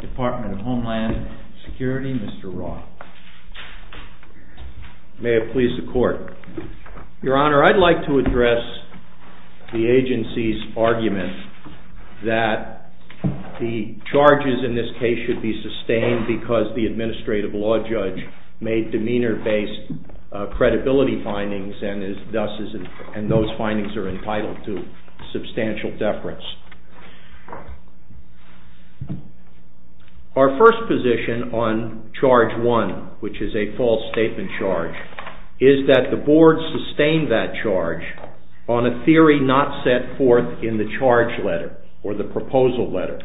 Department of Homeland Security, Mr. Roth. May it please the Court. Your Honor, I'd like to address the agency's argument that the charges in this case should be sustained because the administrative law judge made demeanor-based credibility findings and those findings are entitled to Our first position on charge one, which is a false statement charge, is that the Board sustained that charge on a theory not set forth in the charge letter or the proposal letter.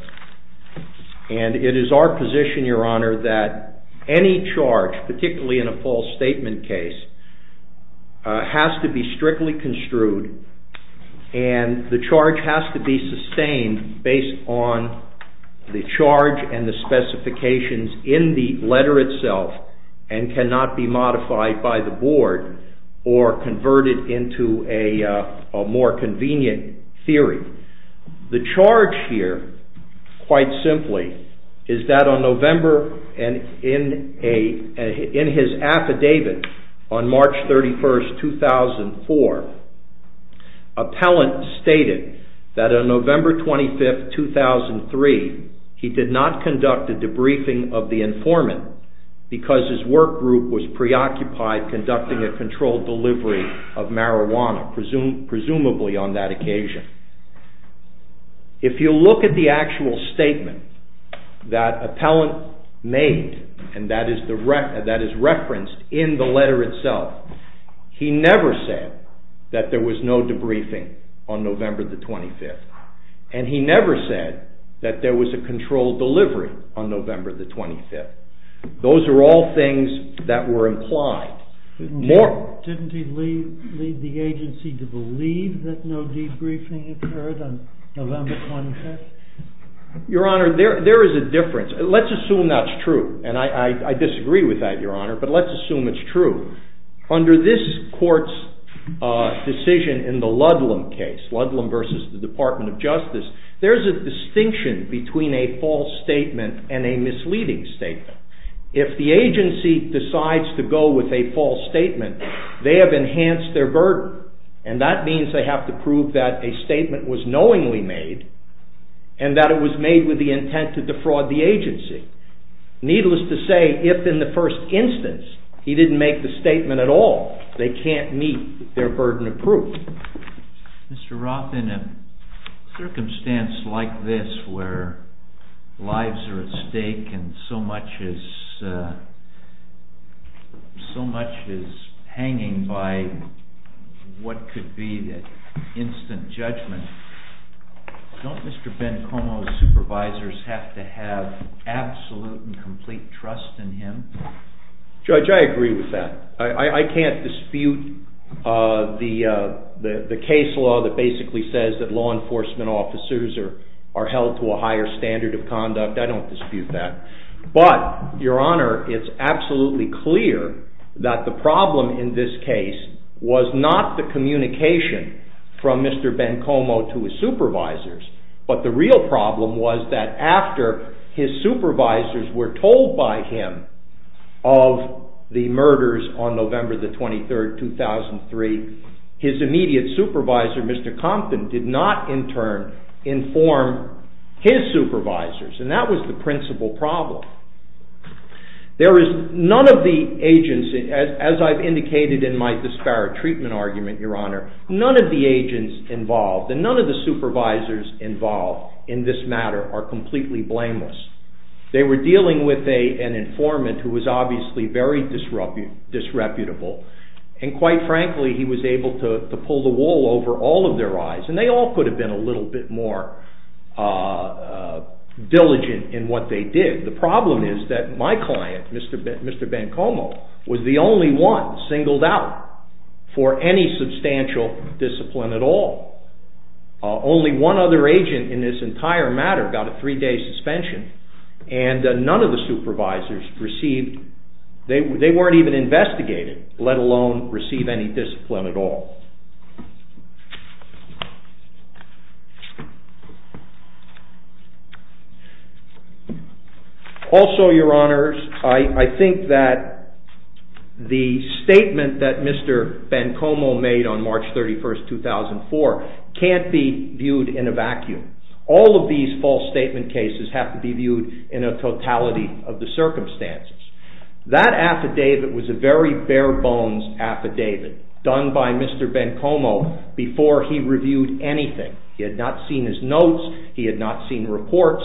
And it is our position, Your Honor, that any charge, particularly in a false statement case, has to be strictly construed and the charge has to be sustained based on the charge and the specifications in the letter itself and cannot be modified by the Board or converted into a more convenient theory. The charge here, quite simply, is that on November and in his affidavit on March 31st, 2004, Appellant stated that on November 25th, 2003, he did not conduct a debriefing of the informant because his workgroup was preoccupied conducting a controlled delivery of marijuana, presumably on that occasion. If you look at the actual statement that Appellant made and that is referenced in the letter itself, he never said that there was no debriefing on November 25th and he never said that there was a controlled delivery on November 25th. Those are all things that were implied. Didn't he lead the agency to believe that no debriefing occurred on November 25th? Your Honor, there is a difference. Let's assume that's true. And I disagree with that, Your Honor, but let's assume it's true. Under this court's decision in the Ludlam case, Ludlam versus the Department of Justice, there's a distinction between a false statement and a misleading statement. If the agency decides to go with a false statement, they have enhanced their burden, and that means they have to prove that a statement was knowingly made and that it was made with the intent to defraud the agency. Needless to say, if in the first instance he didn't make the statement at all, they can't meet their burden of proof. Mr. Roth, in a circumstance like this where lives are at stake and so much is hanging by what could be instant judgment, don't Mr. Bencomo's supervisors have to have absolute and complete trust in him? Judge, I agree with that. I can't dispute the case law that basically says that law enforcement officers are held to a higher standard of conduct. I don't dispute that. But, Your Honor, it's absolutely clear that the problem in this case was not the communication from Mr. Bencomo to his supervisors, but the real problem was that after his supervisors were told by him of the murders on November 23, 2003, his immediate supervisor, Mr. Compton, did not in turn inform his supervisors. And that was the principal problem. There is none of the agents, as I've indicated in my disparate treatment argument, Your Honor, none of the agents involved and none of the supervisors involved in this matter are completely blameless. They were dealing with an informant who was obviously very disreputable and quite frankly he was able to pull the wool over all of their eyes and they all could have been a little bit more diligent in what they did. The problem is that my client, Mr. Bencomo, was the only one singled out for any substantial discipline at all. Only one other agent in this entire matter got a three-day suspension and none of the supervisors received... they weren't even investigated, let alone receive any discipline at all. Also, Your Honors, I think that the statement that Mr. Bencomo made on March 31, 2004 can't be viewed in a vacuum. All of these false statement cases have to be viewed in a totality of the circumstances. That affidavit was a very bare-bones affidavit done by Mr. Bencomo before he reviewed anything. He had not seen his notes, he had not seen reports.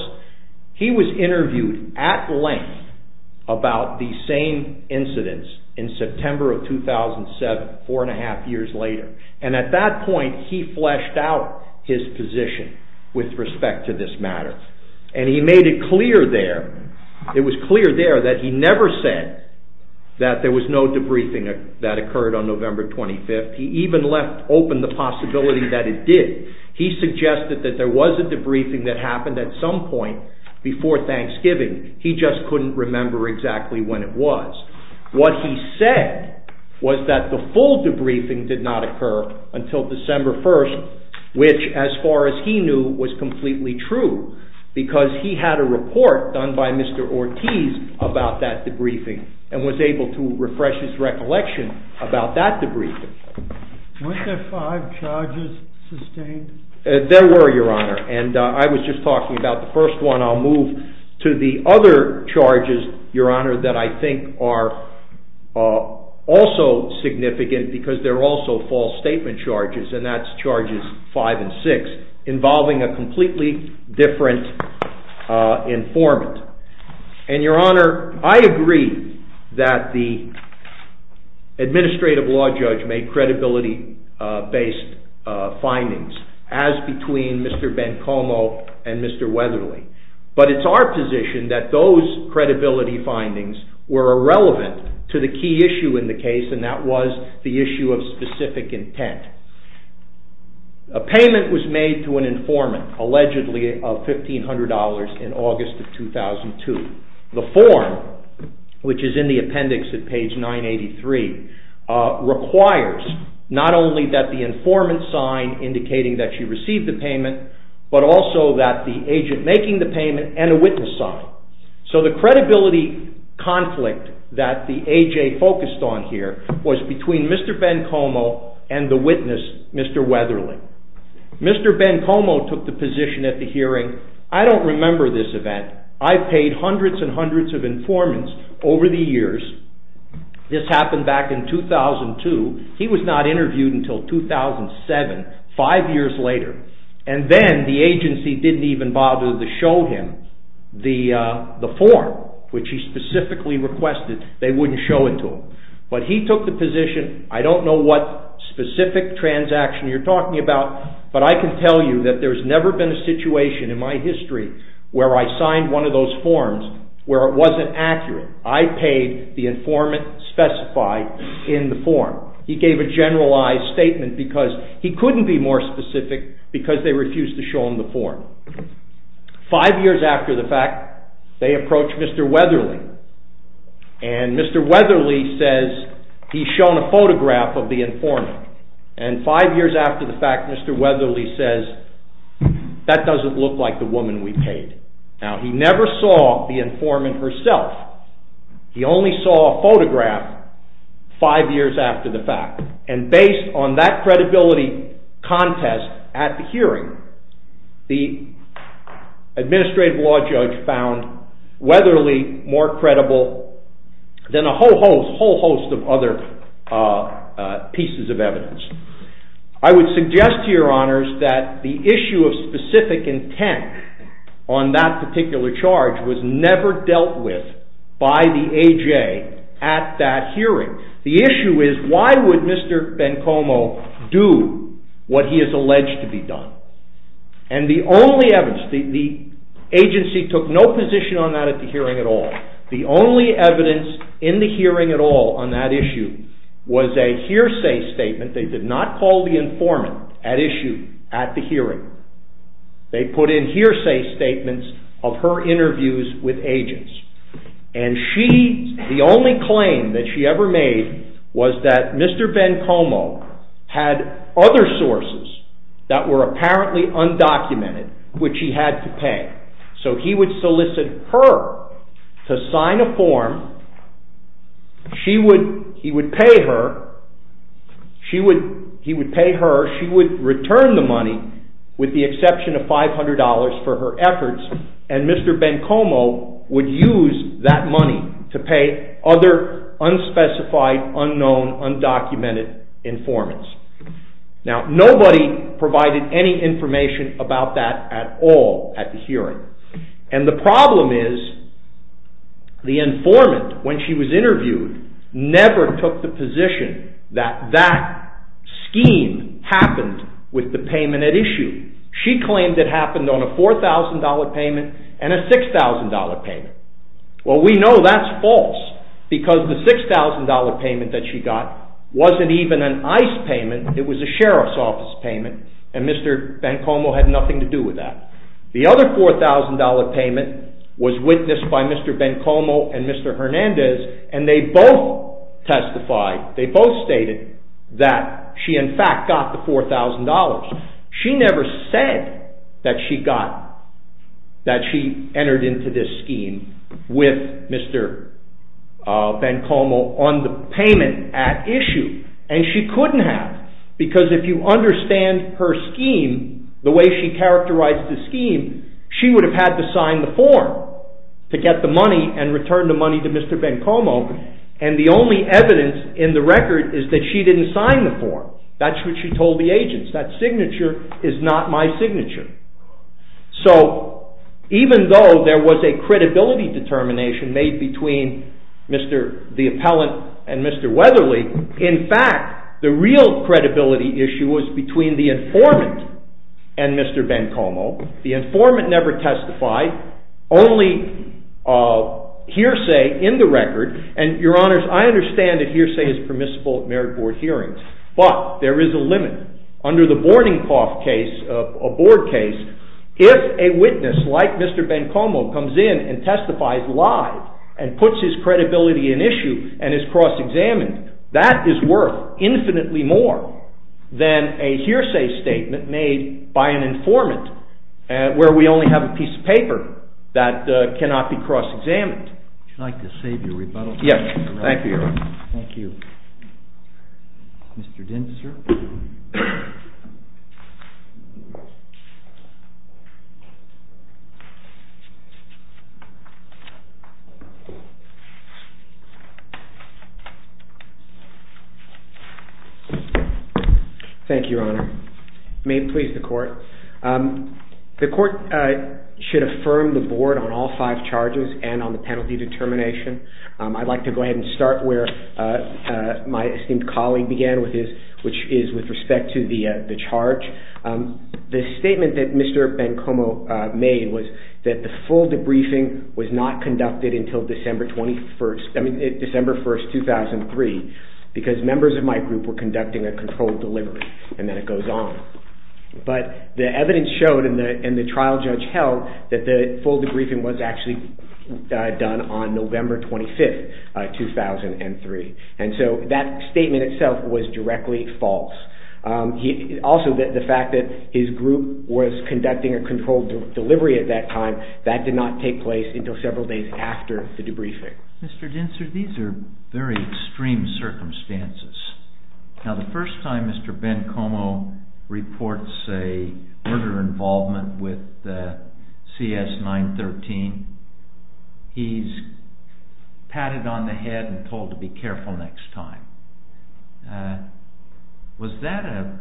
He was interviewed at length about the same incidents in September of 2007, four and a half years later. And at that point he fleshed out his position with respect to this matter. And he made it clear there, it was clear there that he never said that there was no debriefing that occurred on November 25th. He even left open the possibility that it did. He suggested that there was a debriefing that happened at some point before Thanksgiving. He just couldn't remember exactly when it was. What he said was that the full debriefing did not occur until December 1st, which, as far as he knew, was completely true because he had a report done by Mr. Ortiz about that debriefing and was able to refresh his recollection about that debriefing. Weren't there five charges sustained? There were, Your Honor. And I was just talking about the first one. I'll move to the other charges, Your Honor, that I think are also significant because they're also false statement charges, and that's Charges 5 and 6, involving a completely different informant. And, Your Honor, I agree that the administrative law judge made credibility-based findings, as between Mr. Bencomo and Mr. Weatherly. But it's our position that those credibility findings were irrelevant to the key issue in the case, and that was the issue of specific intent. A payment was made to an informant, allegedly of $1,500 in August of 2002. The form, which is in the appendix at page 983, requires not only that the informant sign indicating that she received the payment, but also that the agent making the payment and a witness sign. So the credibility conflict that the AJ focused on here was between Mr. Bencomo and the witness, Mr. Weatherly. Mr. Bencomo took the position at the hearing, I don't remember this event. I've paid hundreds and hundreds of informants over the years. This happened back in 2002. He was not interviewed until 2007, five years later. And then the agency didn't even bother to show him the form, which he specifically requested they wouldn't show it to him. But he took the position, I don't know what specific transaction you're talking about, but I can tell you that there's never been a situation in my history where I signed one of those forms where it wasn't accurate. I paid the informant specified in the form. He gave a generalized statement because he couldn't be more specific because they refused to show him the form. Five years after the fact, they approached Mr. Weatherly, and Mr. Weatherly says he's shown a photograph of the informant. And five years after the fact, Mr. Weatherly says, that doesn't look like the woman we paid. Now, he never saw the informant herself. He only saw a photograph five years after the fact. And based on that credibility contest at the hearing, the administrative law judge found Weatherly more credible than a whole host of other pieces of evidence. I would suggest to your honors that the issue of specific intent on that particular charge was never dealt with by the A.J. at that hearing. The issue is, why would Mr. Bencomo do what he is alleged to be done? And the only evidence, the agency took no position on that at the hearing at all. The only evidence in the hearing at all on that issue was a hearsay statement. They did not call the informant at issue at the hearing. They put in hearsay statements of her interviews with agents. And she, the only claim that she ever made was that Mr. Bencomo had other sources that were apparently undocumented, which he had to pay. So he would solicit her to sign a form. He would pay her. He would pay her. She would return the money with the exception of $500 for her efforts. And Mr. Bencomo would use that money to pay other unspecified, unknown, undocumented informants. Now, nobody provided any information about that at all at the hearing. And the problem is, the informant, when she was interviewed, never took the position that that scheme happened with the payment at issue. She claimed it happened on a $4,000 payment and a $6,000 payment. Well, we know that's false, because the $6,000 payment that she got wasn't even an ICE payment. It was a Sheriff's Office payment, and Mr. Bencomo had nothing to do with that. The other $4,000 payment was witnessed by Mr. Bencomo and Mr. Hernandez, and they both testified, they both stated, that she in fact got the $4,000. She never said that she entered into this scheme with Mr. Bencomo on the payment at issue, and she couldn't have, because if you understand her scheme, the way she characterized the scheme, she would have had to sign the form to get the money and return the money to Mr. Bencomo, and the only evidence in the record is that she didn't sign the form. That's what she told the agents, that signature is not my signature. So, even though there was a credibility determination made between the appellant and Mr. Weatherly, in fact, the real credibility issue was between the informant and Mr. Bencomo. The informant never testified, only hearsay in the record, and your honors, I understand that hearsay is permissible at merit board hearings, but there is a limit. Under the Borning Cough case, a board case, if a witness like Mr. Bencomo comes in and testifies live, and puts his credibility in issue, and is cross-examined, that is worth infinitely more than a hearsay statement made by an informant, where we only have a piece of paper that cannot be cross-examined. Would you like to save your rebuttal? Yes, thank you, your honor. Thank you, your honor. May it please the court. The court should affirm the board on all five charges, and on the penalty determination. I'd like to go ahead and start where my esteemed colleague began, which is with respect to the charge. The statement that Mr. Bencomo made was that the full debriefing was not conducted until December 1st, 2003, because members of my group were conducting a controlled delivery, and then it goes on. But the evidence showed, and the trial judge held, that the full debriefing was actually done on November 25th, 2003. And so that statement itself was directly false. Also, the fact that his group was conducting a controlled delivery at that time, that did not take place until several days after the debriefing. Mr. Dinser, these are very extreme circumstances. Now, the first time Mr. Bencomo reports a murder involvement with CS-913, he's patted on the head and told to be careful next time. Was that a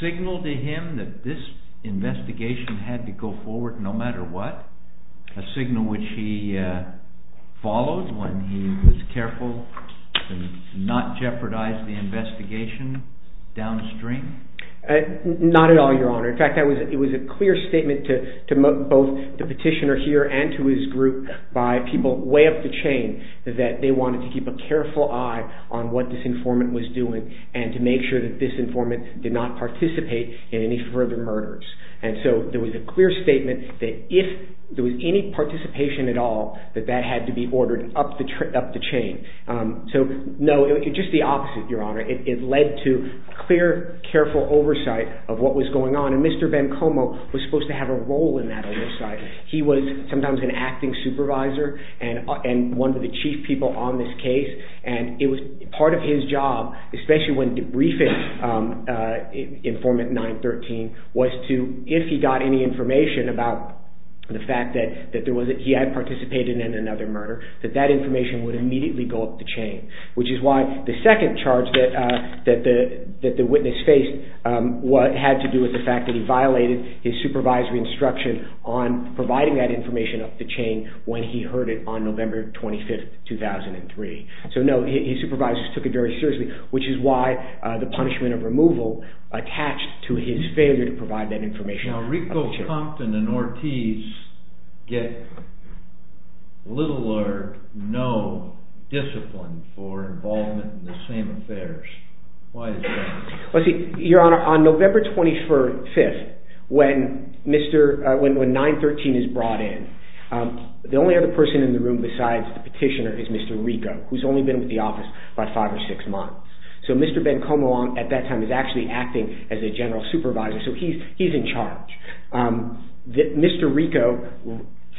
signal to him that this investigation had to go forward no matter what? A signal which he followed when he was careful to not jeopardize the investigation downstream? Not at all, Your Honor. In fact, it was a clear statement to both the petitioner here and to his group by people way up the chain that they wanted to keep a careful eye on what this informant was doing, and to make sure that this informant did not participate in any further murders. And so there was a clear statement that if there was any participation at all, that that had to be ordered up the chain. So, no, just the opposite, Your Honor. It led to clear, careful oversight of what was going on, and Mr. Bencomo was supposed to have a role in that oversight. He was sometimes an acting supervisor and one of the chief people on this case, and part of his job, especially when debriefing informant 913, was to, if he got any information about the fact that he had participated in another murder, that that information would immediately go up the chain, which is why the second charge that the witness faced had to do with the fact that he violated his supervisory instruction on providing that information up the chain when he heard it on November 25, 2003. So, no, his supervisors took it very seriously, which is why the punishment of removal attached to his failure to provide that information up the chain. Now, Rico, Compton, and Ortiz get little or no discipline for involvement in the same affairs. Why is that? Well, see, Your Honor, on November 25, when 913 is brought in, the only other person in the room besides the petitioner is Mr. Rico, who's only been with the office about five or six months. So Mr. Bencomo at that time is actually acting as a general supervisor, so he's in charge. Mr. Rico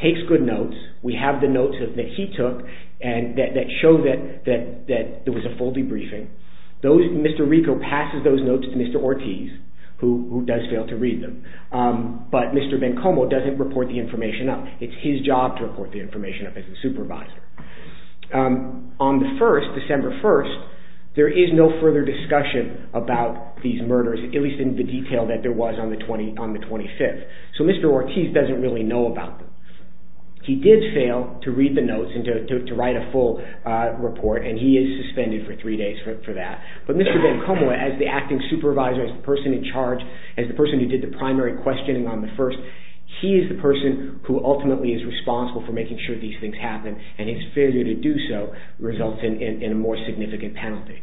takes good notes. We have the notes that he took that show that there was a full debriefing. Mr. Rico passes those notes to Mr. Ortiz, who does fail to read them, but Mr. Bencomo doesn't report the information up. It's his job to report the information up as a supervisor. On the 1st, December 1st, there is no further discussion about these murders, at least in the detail that there was on the 25th. So Mr. Ortiz doesn't really know about them. He did fail to read the notes and to write a full report, and he is suspended for three days for that. But Mr. Bencomo, as the acting supervisor, as the person in charge, as the person who did the primary questioning on the 1st, he is the person who ultimately is responsible for making sure these things happen, and his failure to do so results in a more significant penalty,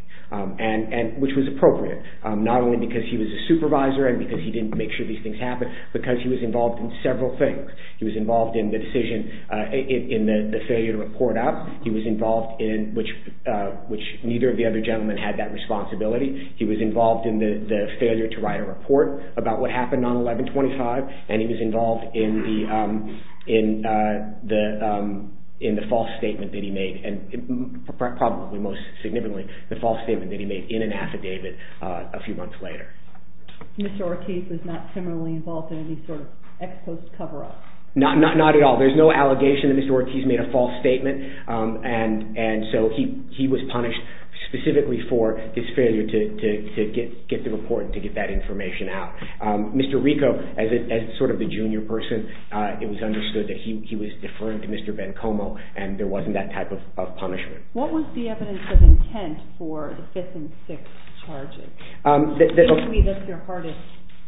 which was appropriate, not only because he was a supervisor and because he didn't make sure these things happened, but because he was involved in several things. He was involved in the decision in the failure to report up. He was involved in which neither of the other gentlemen had that responsibility. He was involved in the failure to write a report about what happened on 11-25, and he was involved in the false statement that he made, and probably most significantly the false statement that he made in an affidavit a few months later. Mr. Ortiz was not similarly involved in any sort of ex-post cover-up? Not at all. There is no allegation that Mr. Ortiz made a false statement, and so he was punished specifically for his failure to get the report and to get that information out. Mr. Rico, as sort of the junior person, it was understood that he was deferring to Mr. Bencomo, and there wasn't that type of punishment. What was the evidence of intent for the fifth and sixth charges? I believe that's your hardest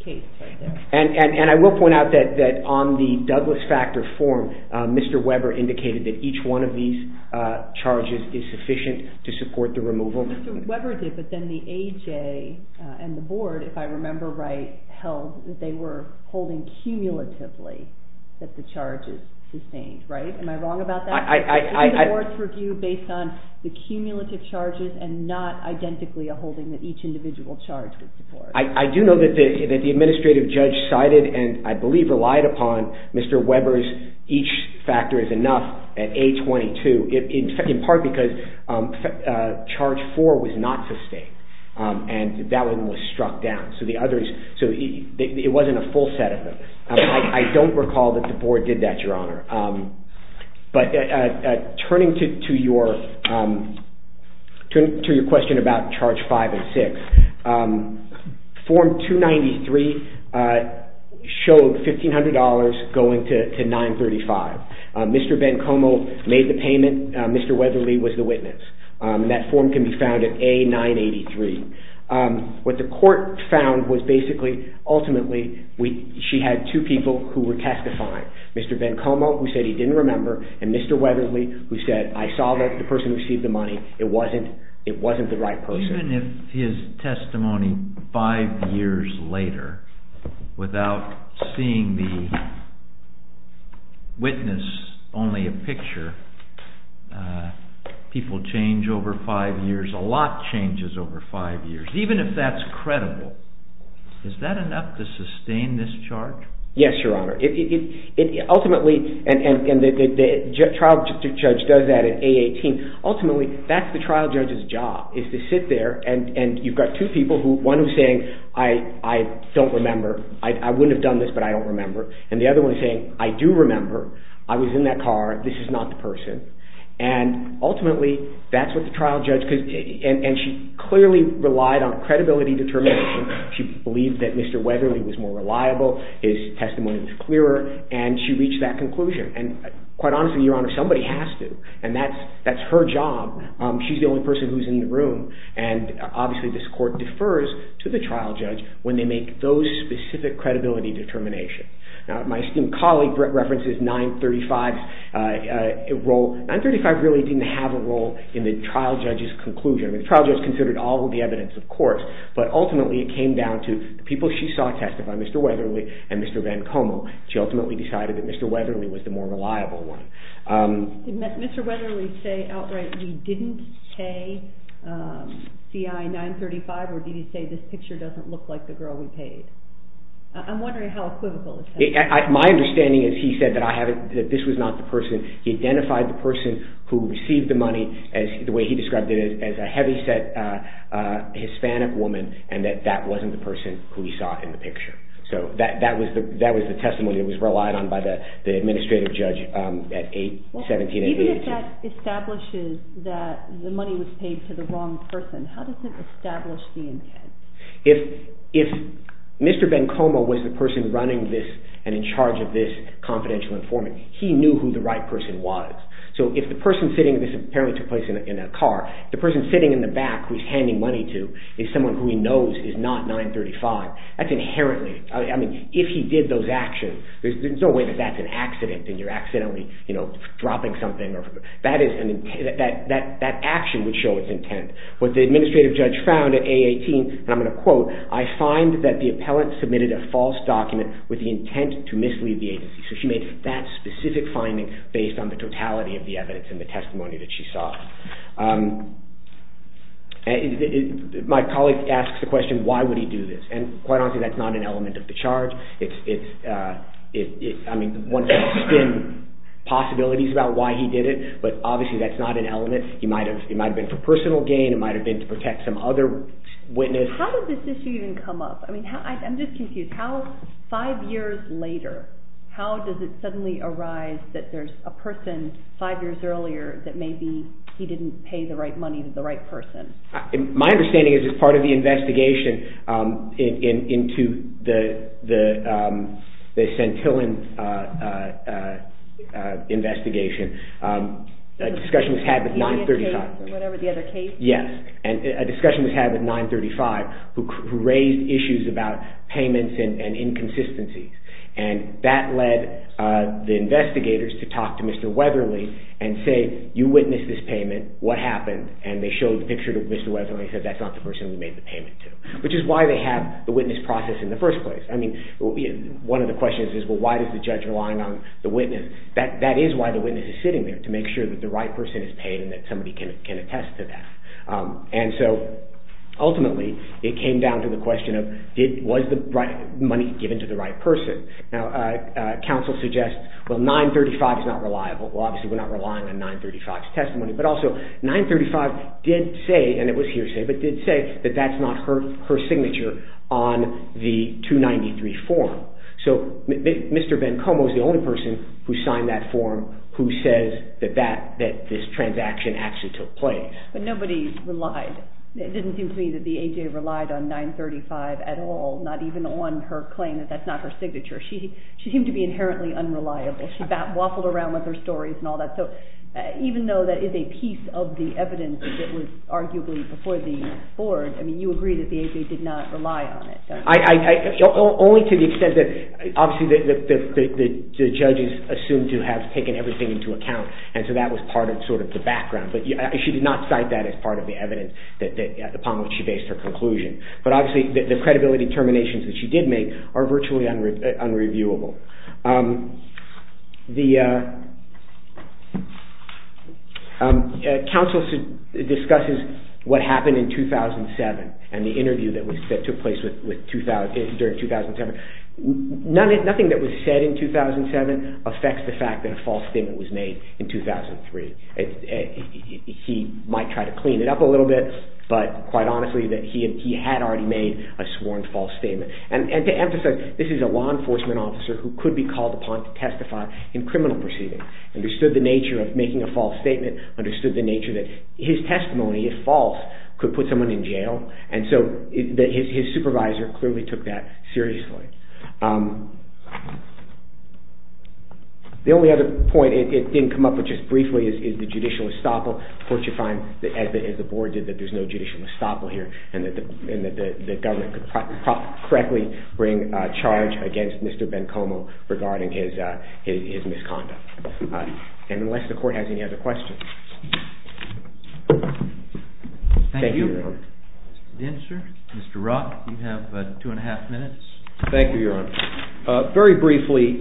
case right there. And I will point out that on the Douglas Factor form, Mr. Weber indicated that each one of these charges is sufficient to support the removal. Mr. Weber did, but then the AJ and the board, if I remember right, held that they were holding cumulatively that the charges sustained, right? Am I wrong about that? Isn't the board's review based on the cumulative charges and not identically a holding that each individual charge would support? I do know that the administrative judge cited and I believe relied upon Mr. Weber's that each factor is enough at A-22, in part because charge four was not sustained, and that one was struck down, so it wasn't a full set of them. I don't recall that the board did that, Your Honor. But turning to your question about charge five and six, form 293 showed $1,500 going to 935. Mr. Bencomo made the payment. Mr. Weatherly was the witness, and that form can be found at A-983. What the court found was basically, ultimately, she had two people who were testifying. Mr. Bencomo, who said he didn't remember, and Mr. Weatherly, who said, I saw the person who received the money. It wasn't the right person. Even if his testimony five years later, without seeing the witness, only a picture, people change over five years, a lot changes over five years, even if that's credible, is that enough to sustain this charge? Yes, Your Honor. Ultimately, and the trial judge does that at A-18. Ultimately, that's the trial judge's job, is to sit there, and you've got two people, one who's saying, I don't remember. I wouldn't have done this, but I don't remember. And the other one is saying, I do remember. I was in that car. This is not the person. And ultimately, that's what the trial judge, and she clearly relied on credibility determination. She believed that Mr. Weatherly was more reliable. His testimony was clearer, and she reached that conclusion. And quite honestly, Your Honor, somebody has to, and that's her job. She's the only person who's in the room, and obviously this court defers to the trial judge when they make those specific credibility determinations. My esteemed colleague references 935's role. 935 really didn't have a role in the trial judge's conclusion. The trial judge considered all of the evidence, of course, but ultimately it came down to the people she saw testify, Mr. Weatherly and Mr. Van Como. She ultimately decided that Mr. Weatherly was the more reliable one. Did Mr. Weatherly say outright he didn't say CI-935, or did he say this picture doesn't look like the girl we paid? I'm wondering how equivocal is that? My understanding is he said that this was not the person. He identified the person who received the money, the way he described it, as a heavyset Hispanic woman, and that that wasn't the person who he saw in the picture. So that was the testimony that was relied on by the administrative judge at 1788. Even if that establishes that the money was paid to the wrong person, how does it establish the intent? If Mr. Van Como was the person running this and in charge of this confidential informant, he knew who the right person was. This apparently took place in a car. The person sitting in the back who he's handing money to is someone who he knows is not 935. If he did those actions, there's no way that that's an accident and you're accidentally dropping something. That action would show its intent. What the administrative judge found at A18, and I'm going to quote, I find that the appellant submitted a false document with the intent to mislead the agency. So she made that specific finding based on the totality of the evidence and the testimony that she saw. My colleague asks the question, why would he do this? Quite honestly, that's not an element of the charge. One can spin possibilities about why he did it, but obviously that's not an element. It might have been for personal gain. It might have been to protect some other witness. How did this issue even come up? I'm just confused. Five years later, how does it suddenly arise that there's a person five years earlier that maybe he didn't pay the right money to the right person? My understanding is as part of the investigation into the Santillan investigation, a discussion was had with 935. Yes, a discussion was had with 935 who raised issues about payments and inconsistencies. And that led the investigators to talk to Mr. Weatherly and say, you witnessed this payment, what happened? And they showed the picture to Mr. Weatherly and said that's not the person we made the payment to. Which is why they have the witness process in the first place. One of the questions is, why does the judge rely on the witness? That is why the witness is sitting there, to make sure that the right person is paid and that somebody can attest to that. And so, ultimately, it came down to the question of was the money given to the right person? Now, counsel suggests, well, 935 is not reliable. Well, obviously, we're not relying on 935's testimony. But also, 935 did say, and it was hearsay, but did say that that's not her signature on the 293 form. So, Mr. Bencomo is the only person who signed that form who says that this transaction actually took place. But nobody relied. It didn't seem to me that the A.J. relied on 935 at all, not even on her claim that that's not her signature. She seemed to be inherently unreliable. She waffled around with her stories and all that. So, even though that is a piece of the evidence that was arguably before the board, I mean, you agree that the A.J. did not rely on it. Only to the extent that, obviously, the judges assumed to have taken everything into account, and so that was part of sort of the background. But she did not cite that as part of the evidence upon which she based her conclusion. But, obviously, the credibility determinations that she did make are virtually unreviewable. The counsel discusses what happened in 2007 and the interview that took place during 2007. Nothing that was said in 2007 affects the fact that a false statement was made in 2003. He might try to clean it up a little bit, but, quite honestly, that he had already made a sworn false statement. And to emphasize, this is a law enforcement officer who could be called upon to testify in criminal proceedings, understood the nature of making a false statement, understood the nature that his testimony, if false, could put someone in jail, and so his supervisor clearly took that seriously. The only other point, it didn't come up, but just briefly, is the judicial estoppel. Of course, you find, as the Board did, that there's no judicial estoppel here and that the government could correctly bring a charge against Mr. Bencomo regarding his misconduct. And unless the Court has any other questions... Thank you, Your Honor. Mr. Dinsher, Mr. Roth, you have two and a half minutes. Thank you, Your Honor. Very briefly,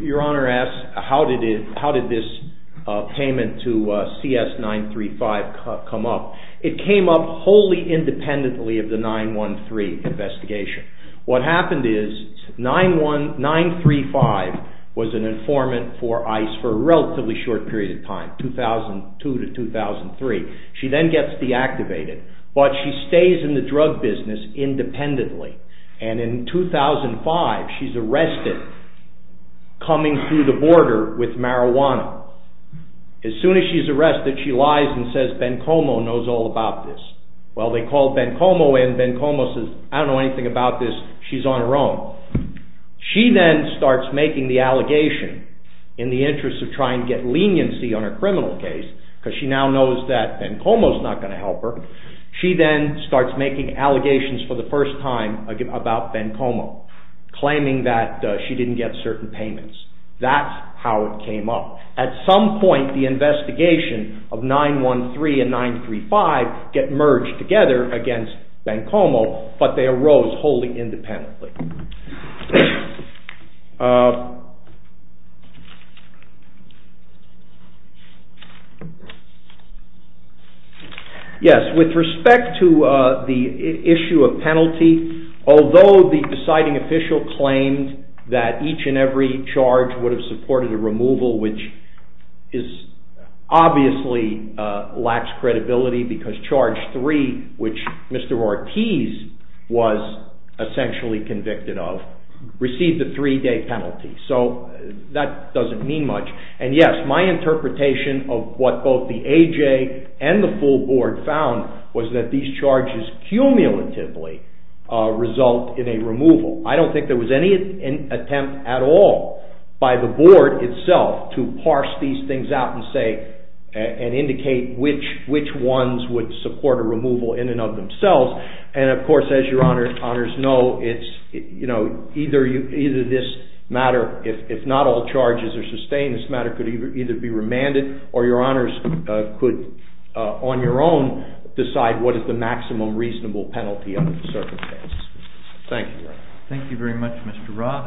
Your Honor asks, how did this payment to CS-935 come up? It came up wholly independently of the 913 investigation. What happened is, 935 was an informant for ICE for a relatively short period of time, 2002 to 2003. She then gets deactivated, but she stays in the drug business independently. And in 2005, she's arrested, coming through the border with marijuana. As soon as she's arrested, she lies and says, Bencomo knows all about this. Well, they call Bencomo in, and Bencomo says, I don't know anything about this, she's on her own. She then starts making the allegation in the interest of trying to get leniency on her criminal case, because she now knows that Bencomo's not going to help her. She then starts making allegations for the first time about Bencomo, claiming that she didn't get certain payments. That's how it came up. At some point, the investigation of 913 and 935 get merged together against Bencomo, but they arose wholly independently. Yes, with respect to the issue of penalty, although the deciding official claimed that each and every charge would have supported a removal, which obviously lacks credibility, because Charge 3, which Mr. Ortiz was essentially convicted of, received a three-day penalty. So that doesn't mean much. And yes, my interpretation of what both the AJ and the full board found was that these charges cumulatively result in a removal. I don't think there was any attempt at all by the board itself to parse these things out and indicate which ones would support a removal in and of themselves. And of course, as your honors know, either this matter, if not all charges are sustained, this matter could either be remanded or your honors could, on your own, decide what is the maximum reasonable penalty under the circumstances. Thank you very much, Mr. Roth.